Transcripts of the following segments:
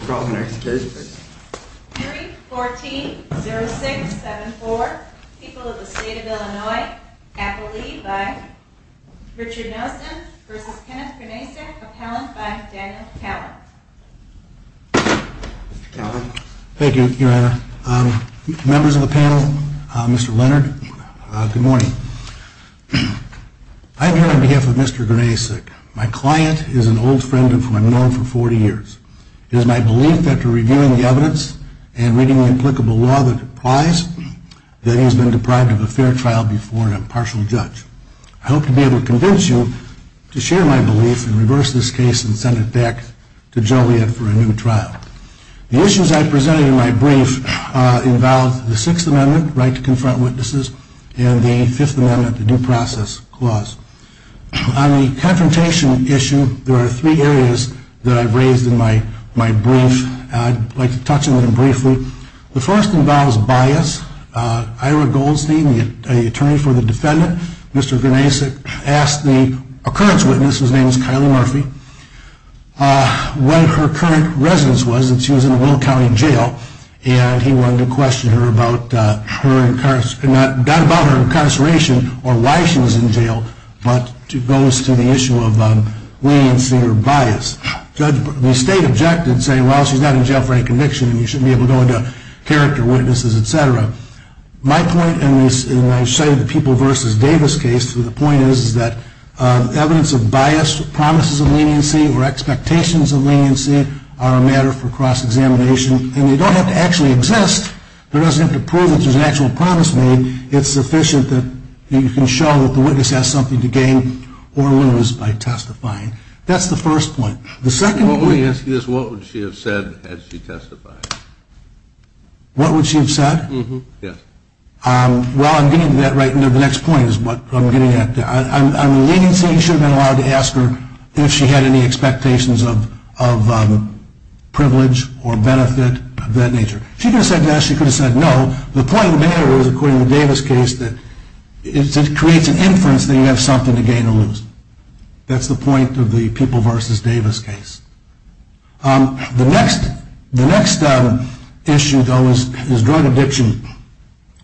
I am here on behalf of Mr. Grnacek. My client is an old friend of mine, known for 40 years. It is my belief, after reviewing the evidence and reading the applicable law that applies, that he has been deprived of a fair trial before an impartial judge. I hope to be able to convince you to share my belief and reverse this case and send it back to Joliet for a new trial. The issues I have presented in my brief involve the Sixth Amendment, the right to confront witnesses, and the Fifth Amendment, the due process clause. On the confrontation issue, there are three areas that I have raised in my brief. I would like to touch on them briefly. The first involves bias. Ira Goldstein, the attorney for the defendant, Mr. Grnacek, asked the occurrence witness, whose name is Kylie Murphy, what her current residence was, that she was in Will County Jail. He wanted to question her about her incarceration or why she was in jail, but goes to the issue of leniency or bias. The state objected, saying, well, she's not in jail for any conviction and you shouldn't be able to go into character, witnesses, etc. My point, and I've cited the People v. Davis case, the point is that evidence of bias, promises of leniency, or expectations of leniency, are a matter for cross-examination. And they don't have to actually exist. They don't have to prove that there's an actual promise made. It's sufficient that you can show that the witness has something to gain or lose by testifying. That's the first point. The second point… Let me ask you this. What would she have said had she testified? What would she have said? Yes. Well, I'm getting to that right now. The next point is what I'm getting at. On leniency, you should have been allowed to ask her if she had any expectations of privilege or benefit of that nature. If she could have said yes, she could have said no. The point there is, according to the Davis case, that it creates an inference that you have something to gain or lose. That's the point of the People v. Davis case. The next issue, though, is drug addiction.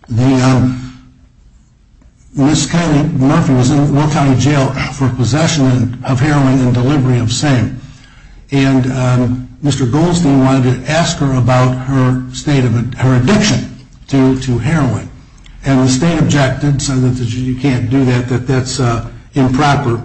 Ms. Murphy was in Will County Jail for possession of heroin and delivery of same. And Mr. Goldstein wanted to ask her about her addiction to heroin. And the state objected, saying that you can't do that, that that's improper.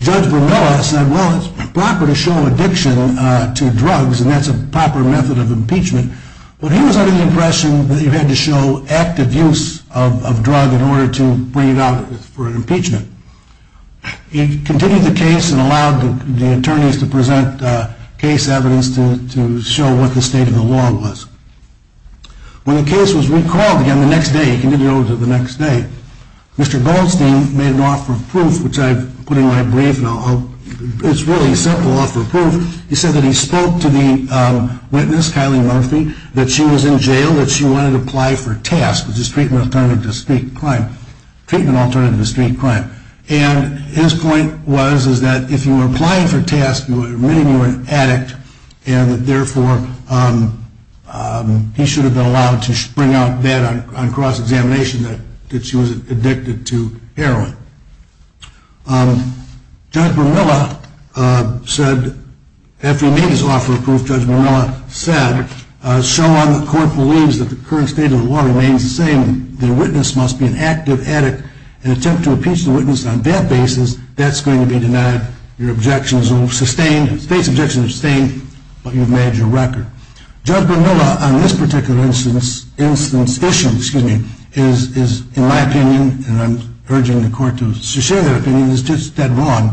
Judge Vermilla said, well, it's improper to show addiction to drugs, and that's a proper method of impeachment. But he was under the impression that you had to show active use of drugs in order to bring it out for impeachment. He continued the case and allowed the attorneys to present case evidence to show what the state of the law was. When the case was recalled again the next day, he continued it over to the next day, Mr. Goldstein made an offer of proof, which I've put in my brief, and it's really simple offer of proof. He said that he spoke to the witness, Kylie Murphy, that she was in jail, that she wanted to apply for TASC, which is Treatment Alternative to Street Crime. And his point was that if you were applying for TASC, meaning you were an addict, and therefore he should have been allowed to bring out that on cross-examination that she was addicted to heroin. Judge Vermilla said, after he made his offer of proof, Judge Vermilla said, so long the court believes that the current state of the law remains the same, the witness must be an active addict, and attempt to impeach the witness on that basis, that's going to be denied, your objections will be sustained, state's objections will be sustained, but you've made your record. Judge Vermilla, on this particular instance, excuse me, is, in my opinion, and I'm urging the court to share their opinion, is just that wrong.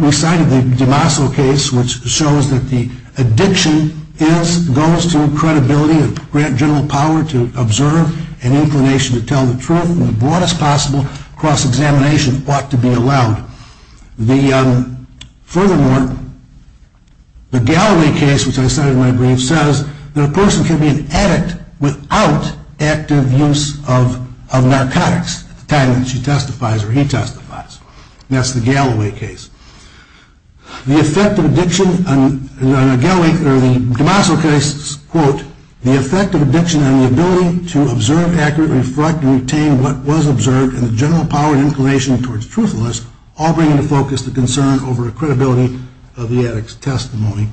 We cited the DeMaso case, which shows that the addiction goes to credibility, and grant general power to observe, and inclination to tell the truth, and the broadest possible cross-examination ought to be allowed. Furthermore, the Galloway case, which I cited in my brief, says that a person can be an addict without active use of narcotics, at the time that she testifies or he testifies. That's the Galloway case. The effect of addiction on the DeMaso case, quote, the effect of addiction on the ability to observe accurately, reflect, and retain what was observed, and the general power and inclination towards truthfulness, all bring into focus the concern over the credibility of the addict's testimony.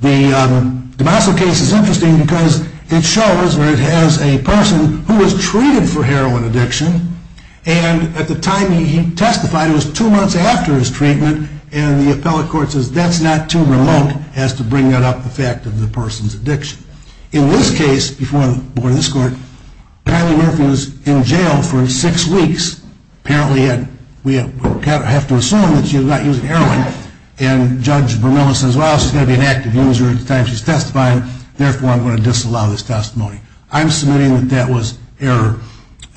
The DeMaso case is interesting because it shows where it has a person who was treated for heroin addiction, and at the time he testified, it was two months after his treatment, and the appellate court says that's not too remote as to bring that up, the fact of the person's addiction. In this case, before the board of this court, Kylie Murphy was in jail for six weeks. Apparently, we have to assume that she was not using heroin, and Judge Vermilla says, well, she's going to be an active user at the time she's testifying, therefore, I'm going to disallow this testimony. I'm submitting that that was error,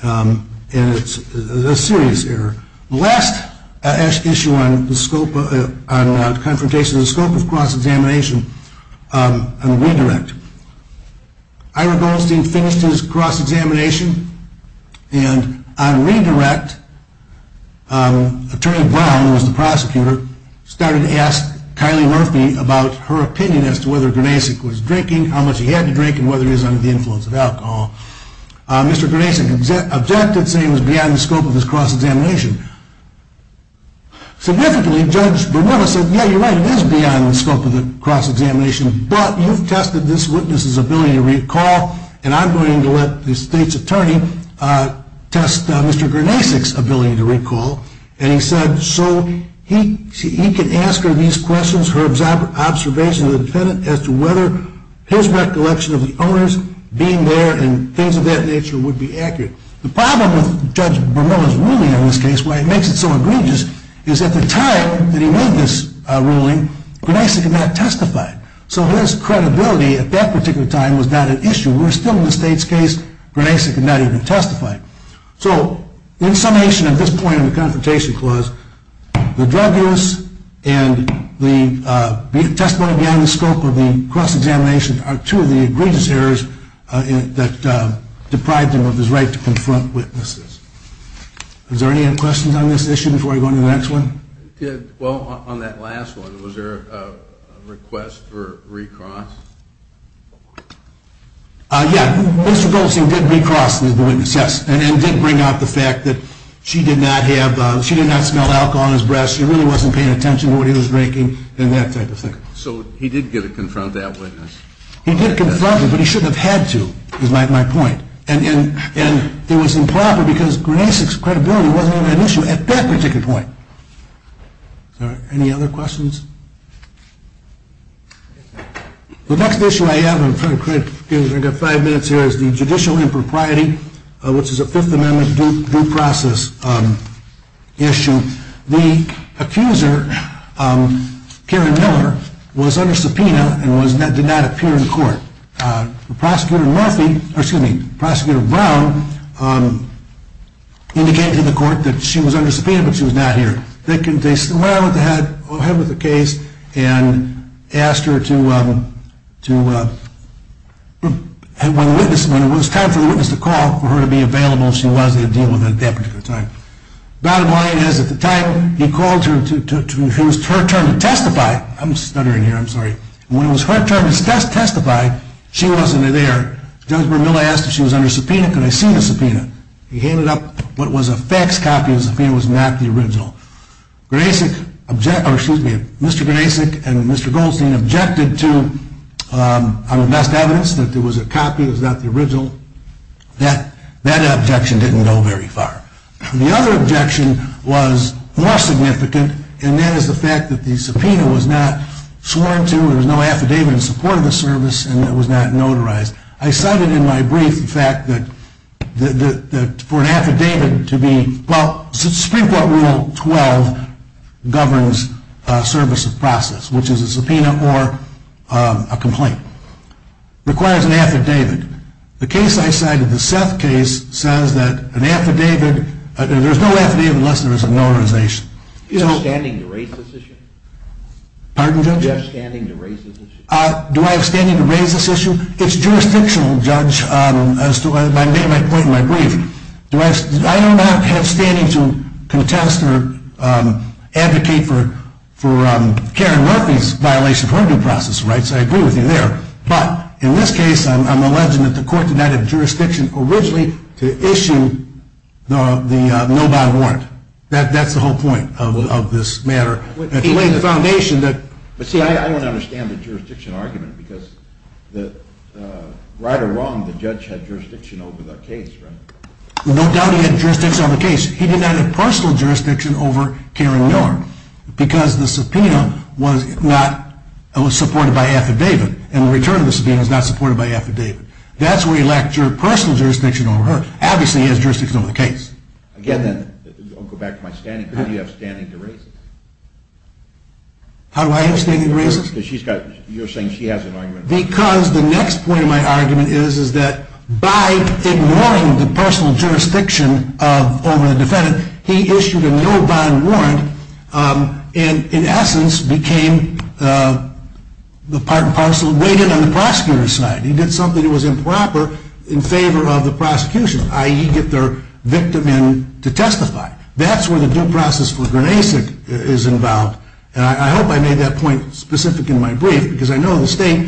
and it's a serious error. The last issue on confrontation is the scope of cross-examination and redirect. Ira Goldstein finished his cross-examination, and on redirect, Attorney Brown, who was the prosecutor, started to ask Kylie Murphy about her opinion as to whether Granasik was drinking, how much he had to drink, and whether he was under the influence of alcohol. Mr. Granasik objected, saying it was beyond the scope of his cross-examination. Significantly, Judge Vermilla said, yeah, you're right, it is beyond the scope of the cross-examination, but you've tested this witness's ability to recall, and I'm going to let the state's attorney test Mr. Granasik's ability to recall, and he said, so he could ask her these questions, her observation of the defendant as to whether his recollection of the owner's being there and things of that nature would be accurate. The problem with Judge Vermilla's ruling in this case, why it makes it so egregious, is at the time that he made this ruling, Granasik had not testified. So his credibility at that particular time was not an issue. We're still in the state's case, Granasik had not even testified. So in summation at this point in the Confrontation Clause, the drug use and the testimony beyond the scope of the cross-examination are two of the egregious errors that deprived him of his right to confront witnesses. Is there any other questions on this issue before I go on to the next one? Well, on that last one, was there a request for recross? Yeah, Mr. Goldstein did recross the witness, yes, and did bring up the fact that she did not smell alcohol on his breath, she really wasn't paying attention to what he was drinking, and that type of thing. So he did get to confront that witness. He did confront her, but he shouldn't have had to, is my point. And it was improper because Granasik's credibility wasn't an issue at that particular point. Is there any other questions? The next issue I have is the judicial impropriety, which is a Fifth Amendment due process issue. The accuser, Karen Miller, was under subpoena and did not appear in court. Prosecutor Brown indicated to the court that she was under subpoena, but she was not here. They went ahead with the case and asked her to, when it was time for the witness to call, for her to be available if she wanted to deal with it at that particular time. Bottom line is, at the time, he called her, it was her turn to testify. I'm stuttering here, I'm sorry. When it was her turn to testify, she wasn't there. Judge Brown Miller asked if she was under subpoena, can I see the subpoena? He handed up what was a faxed copy of the subpoena, it was not the original. Mr. Granasik and Mr. Goldstein objected to, on the best evidence, that it was a copy, it was not the original. That objection didn't go very far. The other objection was more significant, and that is the fact that the subpoena was not sworn to, there was no affidavit in support of the service, and it was not notarized. I cited in my brief the fact that for an affidavit to be, well, Supreme Court Rule 12 governs service of process, which is a subpoena or a complaint. It requires an affidavit. The case I cited, the Seth case, says that an affidavit, there's no affidavit unless there's a notarization. Do you have standing to raise this issue? Pardon, Judge? Do you have standing to raise this issue? Do I have standing to raise this issue? It's jurisdictional, Judge, as I made my point in my brief. I do not have standing to contest or advocate for Karen Murphy's violation of her due process rights, I agree with you there. But in this case, I'm alleging that the court did not have jurisdiction originally to issue the no bond warrant. That's the whole point of this matter. But see, I don't understand the jurisdiction argument, because right or wrong, the judge had jurisdiction over the case, right? No doubt he had jurisdiction over the case. He did not have personal jurisdiction over Karen Miller, because the subpoena was not, it was supported by affidavit, and the return of the subpoena was not supported by affidavit. That's where he lacked personal jurisdiction over her. Obviously, he has jurisdiction over the case. Again then, I'll go back to my standing. Do you have standing to raise this? How do I have standing to raise this? Because she's got, you're saying she has an argument. Because the next point of my argument is, is that by ignoring the personal jurisdiction over the defendant, he issued a no bond warrant, and in essence, became the part and parcel, weighed in on the prosecutor's side. He did something that was improper in favor of the prosecution, i.e. get their victim in to testify. That's where the due process for Granasik is involved. And I hope I made that point specific in my brief, because I know the state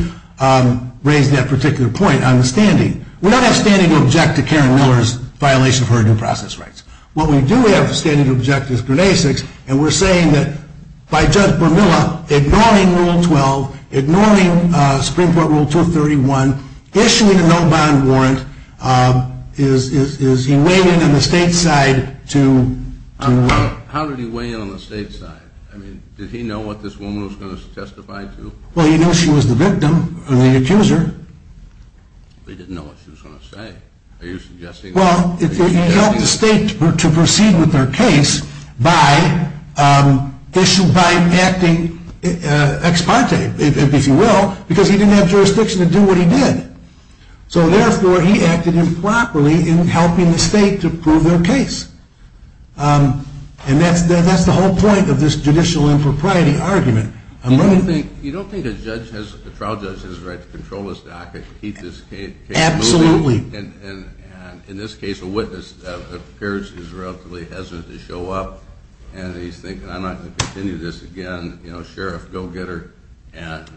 raised that particular point on the standing. We don't have standing to object to Karen Miller's violation of her due process rights. What we do have standing to object is Granasik's, and we're saying that by Judge Bermuda, ignoring Rule 12, ignoring Supreme Court Rule 231, issuing a no bond warrant, is he weighing in on the state side to- How did he weigh in on the state side? I mean, did he know what this woman was going to testify to? Well, he knew she was the victim, the accuser. But he didn't know what she was going to say. Are you suggesting- Well, he helped the state to proceed with their case by acting ex parte, if you will, because he didn't have jurisdiction to do what he did. So therefore, he acted improperly in helping the state to prove their case. And that's the whole point of this judicial impropriety argument. You don't think a trial judge has the right to control his docket, keep this case moving? Absolutely. And in this case, a witness appears to be relatively hesitant to show up, and he's thinking, I'm not going to continue this again. Sheriff, go get her, and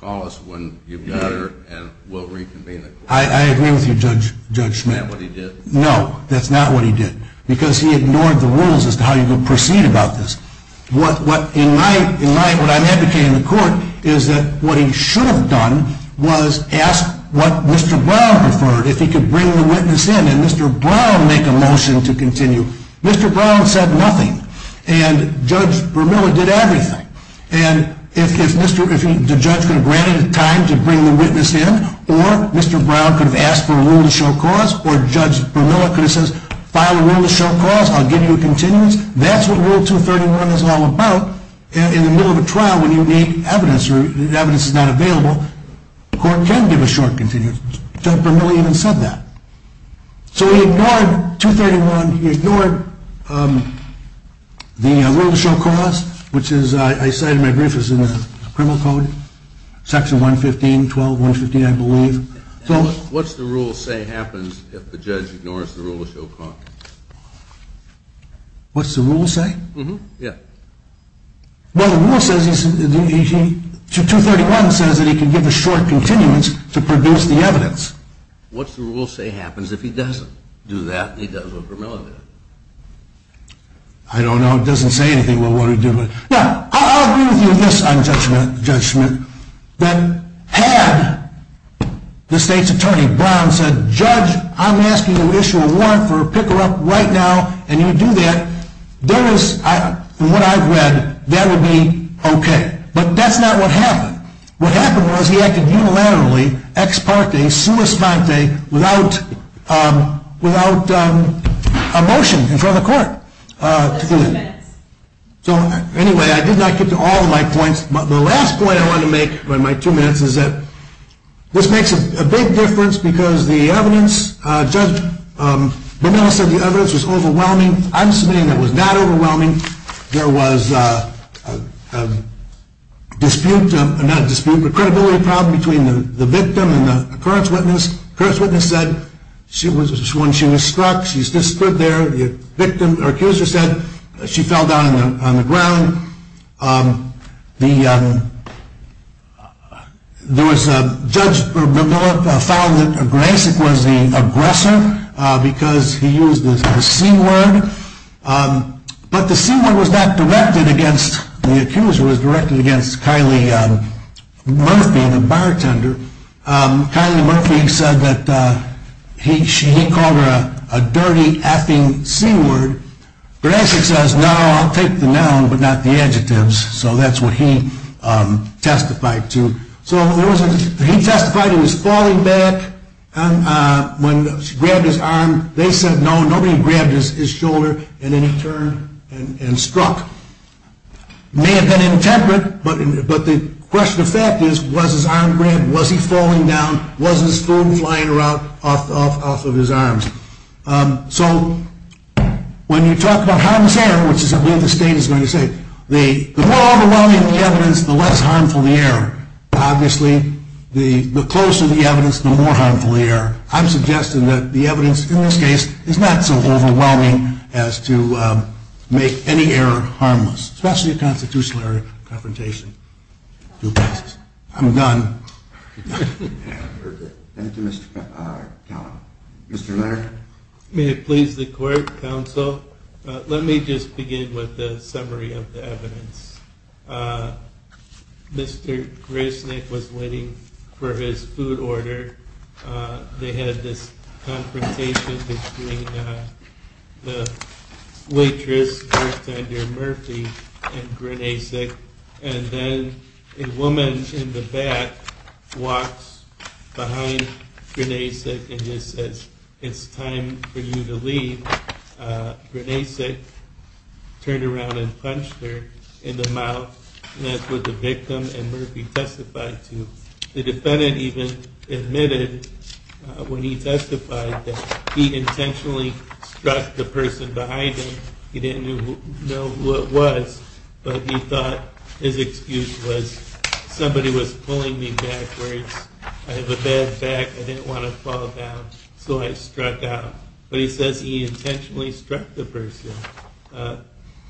call us when you've got her, and we'll reconvene the court. I agree with you, Judge Schmidt. Is that what he did? No, that's not what he did, because he ignored the rules as to how you're going to proceed about this. What I'm advocating in the court is that what he should have done was ask what Mr. Brown preferred, if he could bring the witness in, and Mr. Brown make a motion to continue. Mr. Brown said nothing, and Judge Bermuda did everything. And if the judge could have granted time to bring the witness in, or Mr. Brown could have asked for a rule to show cause, or Judge Bermuda could have said, file a rule to show cause, I'll give you a continuance. That's what Rule 231 is all about. In the middle of a trial, when you need evidence or evidence is not available, the court can give a short continuance. Judge Bermuda even said that. So he ignored 231. He ignored the rule to show cause, which I cited in my brief as in the criminal code, Section 115, 12, 115, I believe. What's the rule say happens if the judge ignores the rule to show cause? What's the rule say? Yeah. Well, Rule 231 says that he can give a short continuance to produce the evidence. What's the rule say happens if he doesn't do that, and he does what Bermuda did? I don't know. It doesn't say anything. Now, I'll agree with you on this, Judge Schmidt, that had the state's attorney, Brown, said, Judge, I'm asking you to issue a warrant for a pick-her-up right now, and you do that, from what I've read, that would be okay. But that's not what happened. What happened was he acted unilaterally, ex parte, sua spente, without a motion in front of the court. Excuse me. So, anyway, I did not get to all of my points, but the last point I wanted to make in my two minutes is that this makes a big difference because the evidence, Judge Bonilla said the evidence was overwhelming. I'm submitting that it was not overwhelming. There was a dispute, not a dispute, but a credibility problem between the victim and the occurrence witness. The occurrence witness said when she was struck, she stood there. The victim, or accuser, said she fell down on the ground. Judge Bonilla found it a grace. It was the aggressor because he used the C word. But the C word was not directed against the accuser. It was directed against Kylie Murphy, the bartender. Kylie Murphy said that he called her a dirty, effing C word. The aggressor says, no, I'll take the noun, but not the adjectives. So that's what he testified to. So he testified he was falling back when she grabbed his arm. They said no, nobody grabbed his shoulder. And then he turned and struck. May have been intemperate, but the question of fact is, was his arm grabbed? Was he falling down? Was his phone flying off of his arms? So when you talk about harmless error, which is what the state is going to say, the more overwhelming the evidence, the less harmful the error. Obviously, the closer the evidence, the more harmful the error. I'm suggesting that the evidence in this case is not so overwhelming as to make any error harmless, especially a constitutional error confrontation. I'm done. Mr. Laird. May it please the court, counsel. Let me just begin with the summary of the evidence. Mr. Grissnick was waiting for his food order. They had this confrontation between the waitress near Murphy and Grinesic. And then a woman in the back walks behind Grinesic and just says, it's time for you to leave. Grinesic turned around and punched her in the mouth. And that's what the victim and Murphy testified to. The defendant even admitted when he testified that he intentionally struck the person behind him. He didn't know who it was, but he thought his excuse was somebody was pulling me backwards. I have a bad back. I didn't want to fall down, so I struck out. But he says he intentionally struck the person.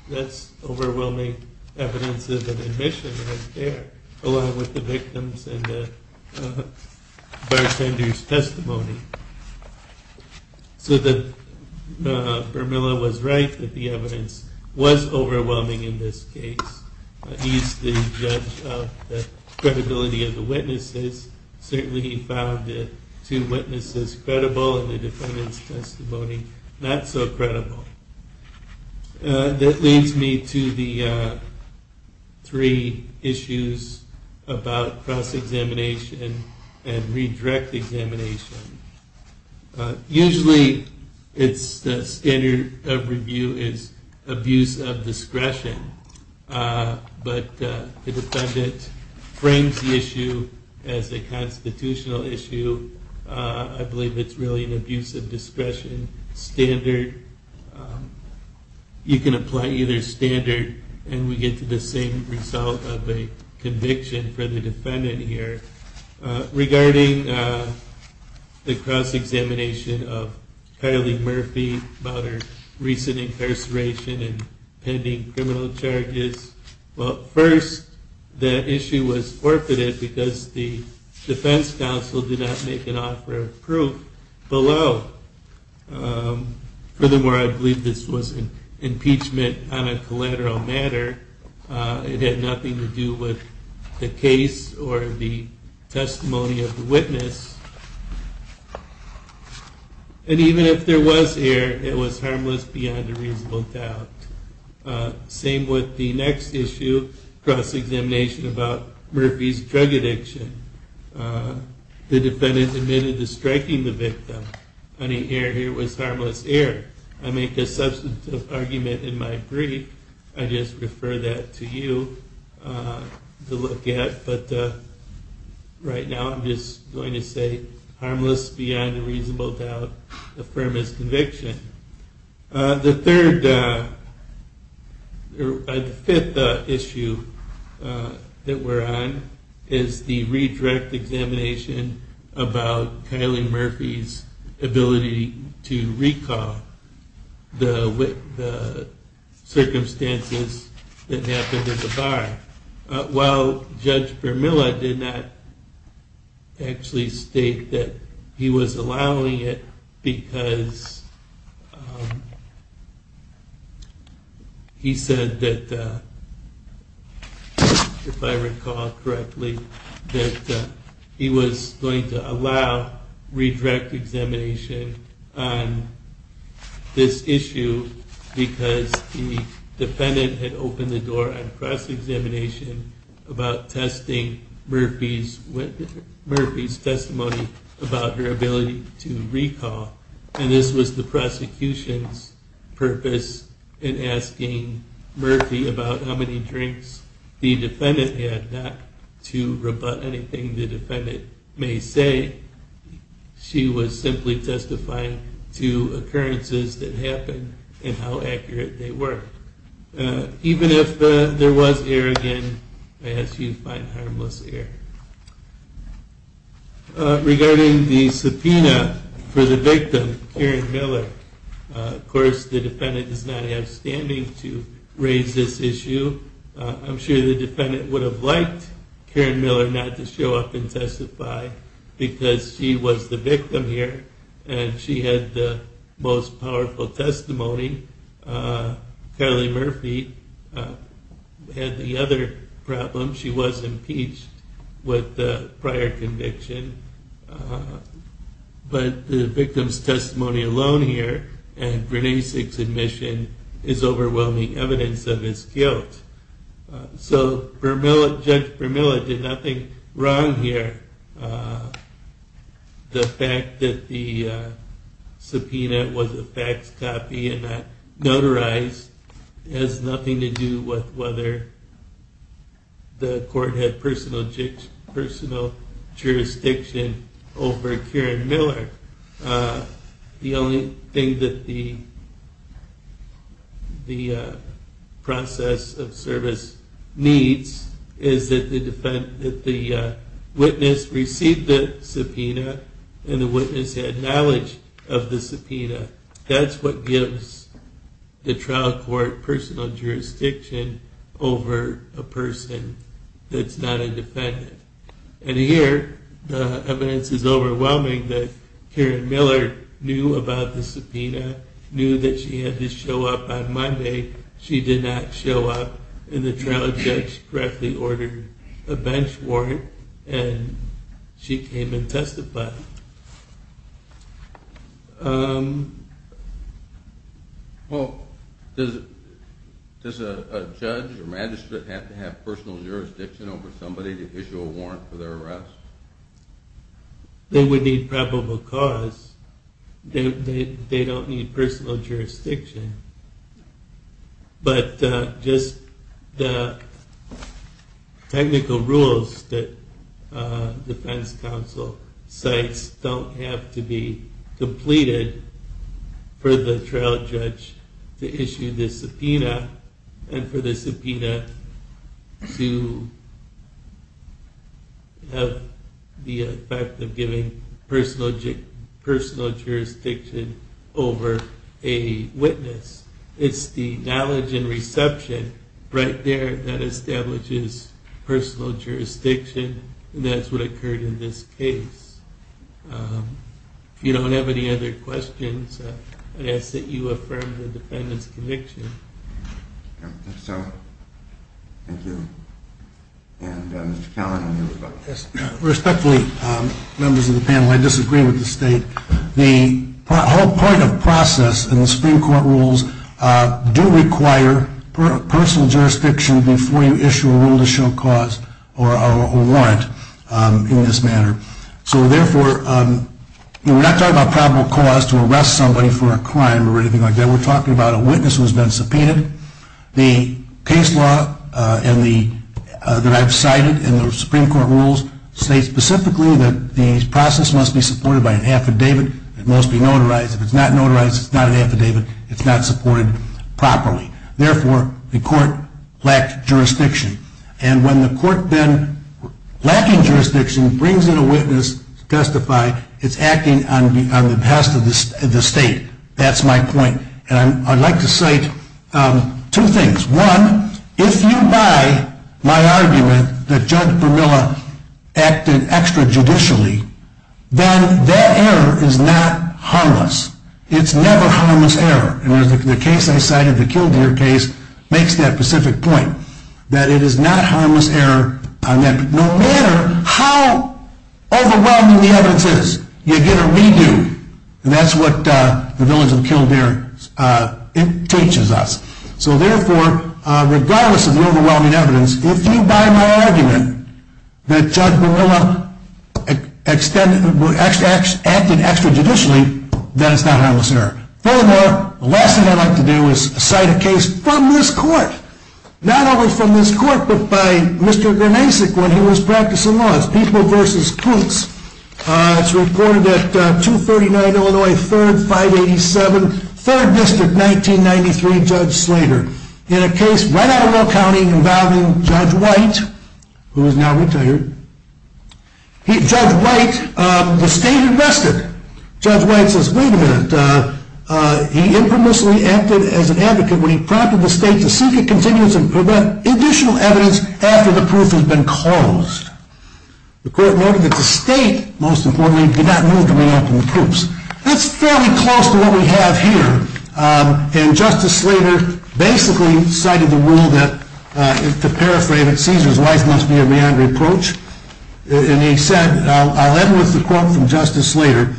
That's overwhelming evidence of an admission right there, along with the victim's and the bartender's testimony. So Bermuda was right that the evidence was overwhelming in this case. He's the judge of the credibility of the witnesses. Certainly he found the two witnesses credible and the defendant's testimony not so credible. That leads me to the three issues about cross-examination and redirect examination. Usually the standard of review is abuse of discretion. But the defendant frames the issue as a constitutional issue. I believe it's really an abuse of discretion standard. You can apply either standard and we get to the same result of a conviction for the defendant here. Regarding the cross-examination of Carly Murphy about her recent incarceration and pending criminal charges, first, that issue was forfeited because the defense counsel did not make an offer of proof below. Furthermore, I believe this was an impeachment on a collateral matter. It had nothing to do with the case or the testimony of the witness. And even if there was error, it was harmless beyond a reasonable doubt. Same with the next issue, cross-examination about Murphy's drug addiction. I make a substantive argument in my brief, I just refer that to you to look at. But right now I'm just going to say harmless beyond a reasonable doubt, affirm his conviction. The fifth issue that we're on is the redirect examination about Carly Murphy's ability to recall the circumstances that happened at the bar. While Judge Vermilla did not actually state that he was allowing it because he said that, if I recall correctly, that he was going to allow redirect examination on this issue because the defendant had opened the door on cross-examination about testing Murphy's testimony about her ability to recall. And this was the prosecution's purpose in asking Murphy about how many drinks the defendant had, not to rebut anything the defendant may say. She was simply testifying to occurrences that happened and how accurate they were. Even if there was error again, I ask you to find harmless error. Regarding the subpoena for the victim, Karen Miller, of course the defendant does not have standing to raise this issue. I'm sure the defendant would have liked Karen Miller not to show up and testify because she was the victim here and she had the most powerful testimony. Carly Murphy had the other problem. She was impeached with the prior conviction. But the victim's testimony alone here and Rene Sigg's admission is overwhelming evidence of his guilt. So Judge Vermilla did nothing wrong here. The fact that the subpoena was a fax copy and not notarized has nothing to do with whether the court had needs is that the witness received the subpoena and the witness had knowledge of the subpoena. That's what gives the trial court personal jurisdiction over a person that's not a defendant. And here the evidence is overwhelming that Karen Miller knew about the subpoena, knew that she had to show up on Monday. She did not show up and the trial judge correctly ordered a bench warrant and she came and testified. Well, does a judge or magistrate have to have personal jurisdiction over somebody to issue a warrant for their arrest? They would need probable cause. They don't need personal jurisdiction. But just the technical rules that defense counsel cites don't have to be completed for the trial judge to issue the subpoena and for the subpoena to have the effect of giving personal jurisdiction over a witness. It's the knowledge and reception right there that establishes personal jurisdiction and that's what occurred in this case. If you don't have any other questions, I'd ask that you affirm the defendant's conviction. I think so. Thank you. And Mr. Callahan, you were about to ask. Respectfully, members of the panel, I disagree with the state. The whole point of process in the Supreme Court rules do require personal jurisdiction before you issue a rule to show cause or a warrant in this matter. So therefore, we're not talking about probable cause to arrest somebody for a crime or anything like that. We're talking about a witness who has been subpoenaed. The case law that I've cited in the Supreme Court rules state specifically that the process must be supported by an affidavit. It must be notarized. If it's not notarized, it's not an affidavit. It's not supported properly. Therefore, the court lacked jurisdiction. And when the court then, lacking jurisdiction, brings in a witness to testify, it's acting on the behest of the state. That's my point. And I'd like to cite two things. One, if you buy my argument that Judge Vermilla acted extra-judicially, then that error is not harmless. It's never harmless error. The case I cited, the Kildare case, makes that specific point, that it is not harmless error. No matter how overwhelming the evidence is, you get a redo. And that's what the village of Kildare teaches us. So therefore, regardless of the overwhelming evidence, if you buy my argument that Judge Vermilla acted extra-judicially, then it's not harmless error. Furthermore, the last thing I'd like to do is cite a case from this court. Not only from this court, but by Mr. Grimesek when he was practicing law. It's People vs. Clutes. It's reported at 239 Illinois 3rd, 587, 3rd District, 1993, Judge Slater. In a case right out of Will County involving Judge White, who is now retired. Judge White, the state invested. Judge White says, wait a minute. He impermissibly acted as an advocate when he prompted the state to seek a contingency to prevent additional evidence after the proof had been closed. The court noted that the state, most importantly, did not move to re-open the proofs. That's fairly close to what we have here. And Justice Slater basically cited the rule that, to paraphrase it, Caesar's life must be a meandering approach. And he said, and I'll end with the quote from Justice Slater,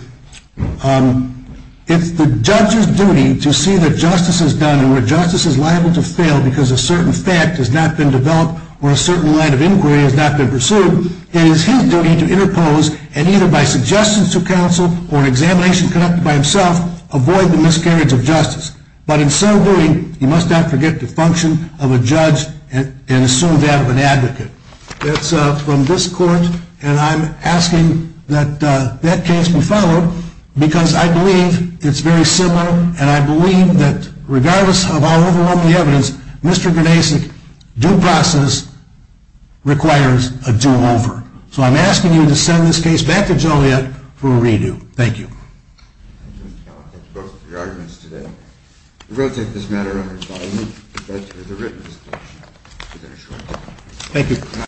it's the judge's duty to see that justice is done and where justice is liable to fail because a certain fact has not been developed or a certain line of inquiry has not been pursued. It is his duty to interpose and either by suggestion to counsel or an examination conducted by himself, avoid the miscarriage of justice. But in so doing, he must not forget the function of a judge and assume that of an advocate. That's from this court. And I'm asking that that case be followed because I believe it's very similar, and I believe that regardless of how overwhelming the evidence, Mr. Ganesic, due process requires a do-over. So I'm asking you to send this case back to Joliet for a redo. Thank you. Thank you, Mr. Califf. That's both of your arguments today. We will take this matter under its final reading. Thank you.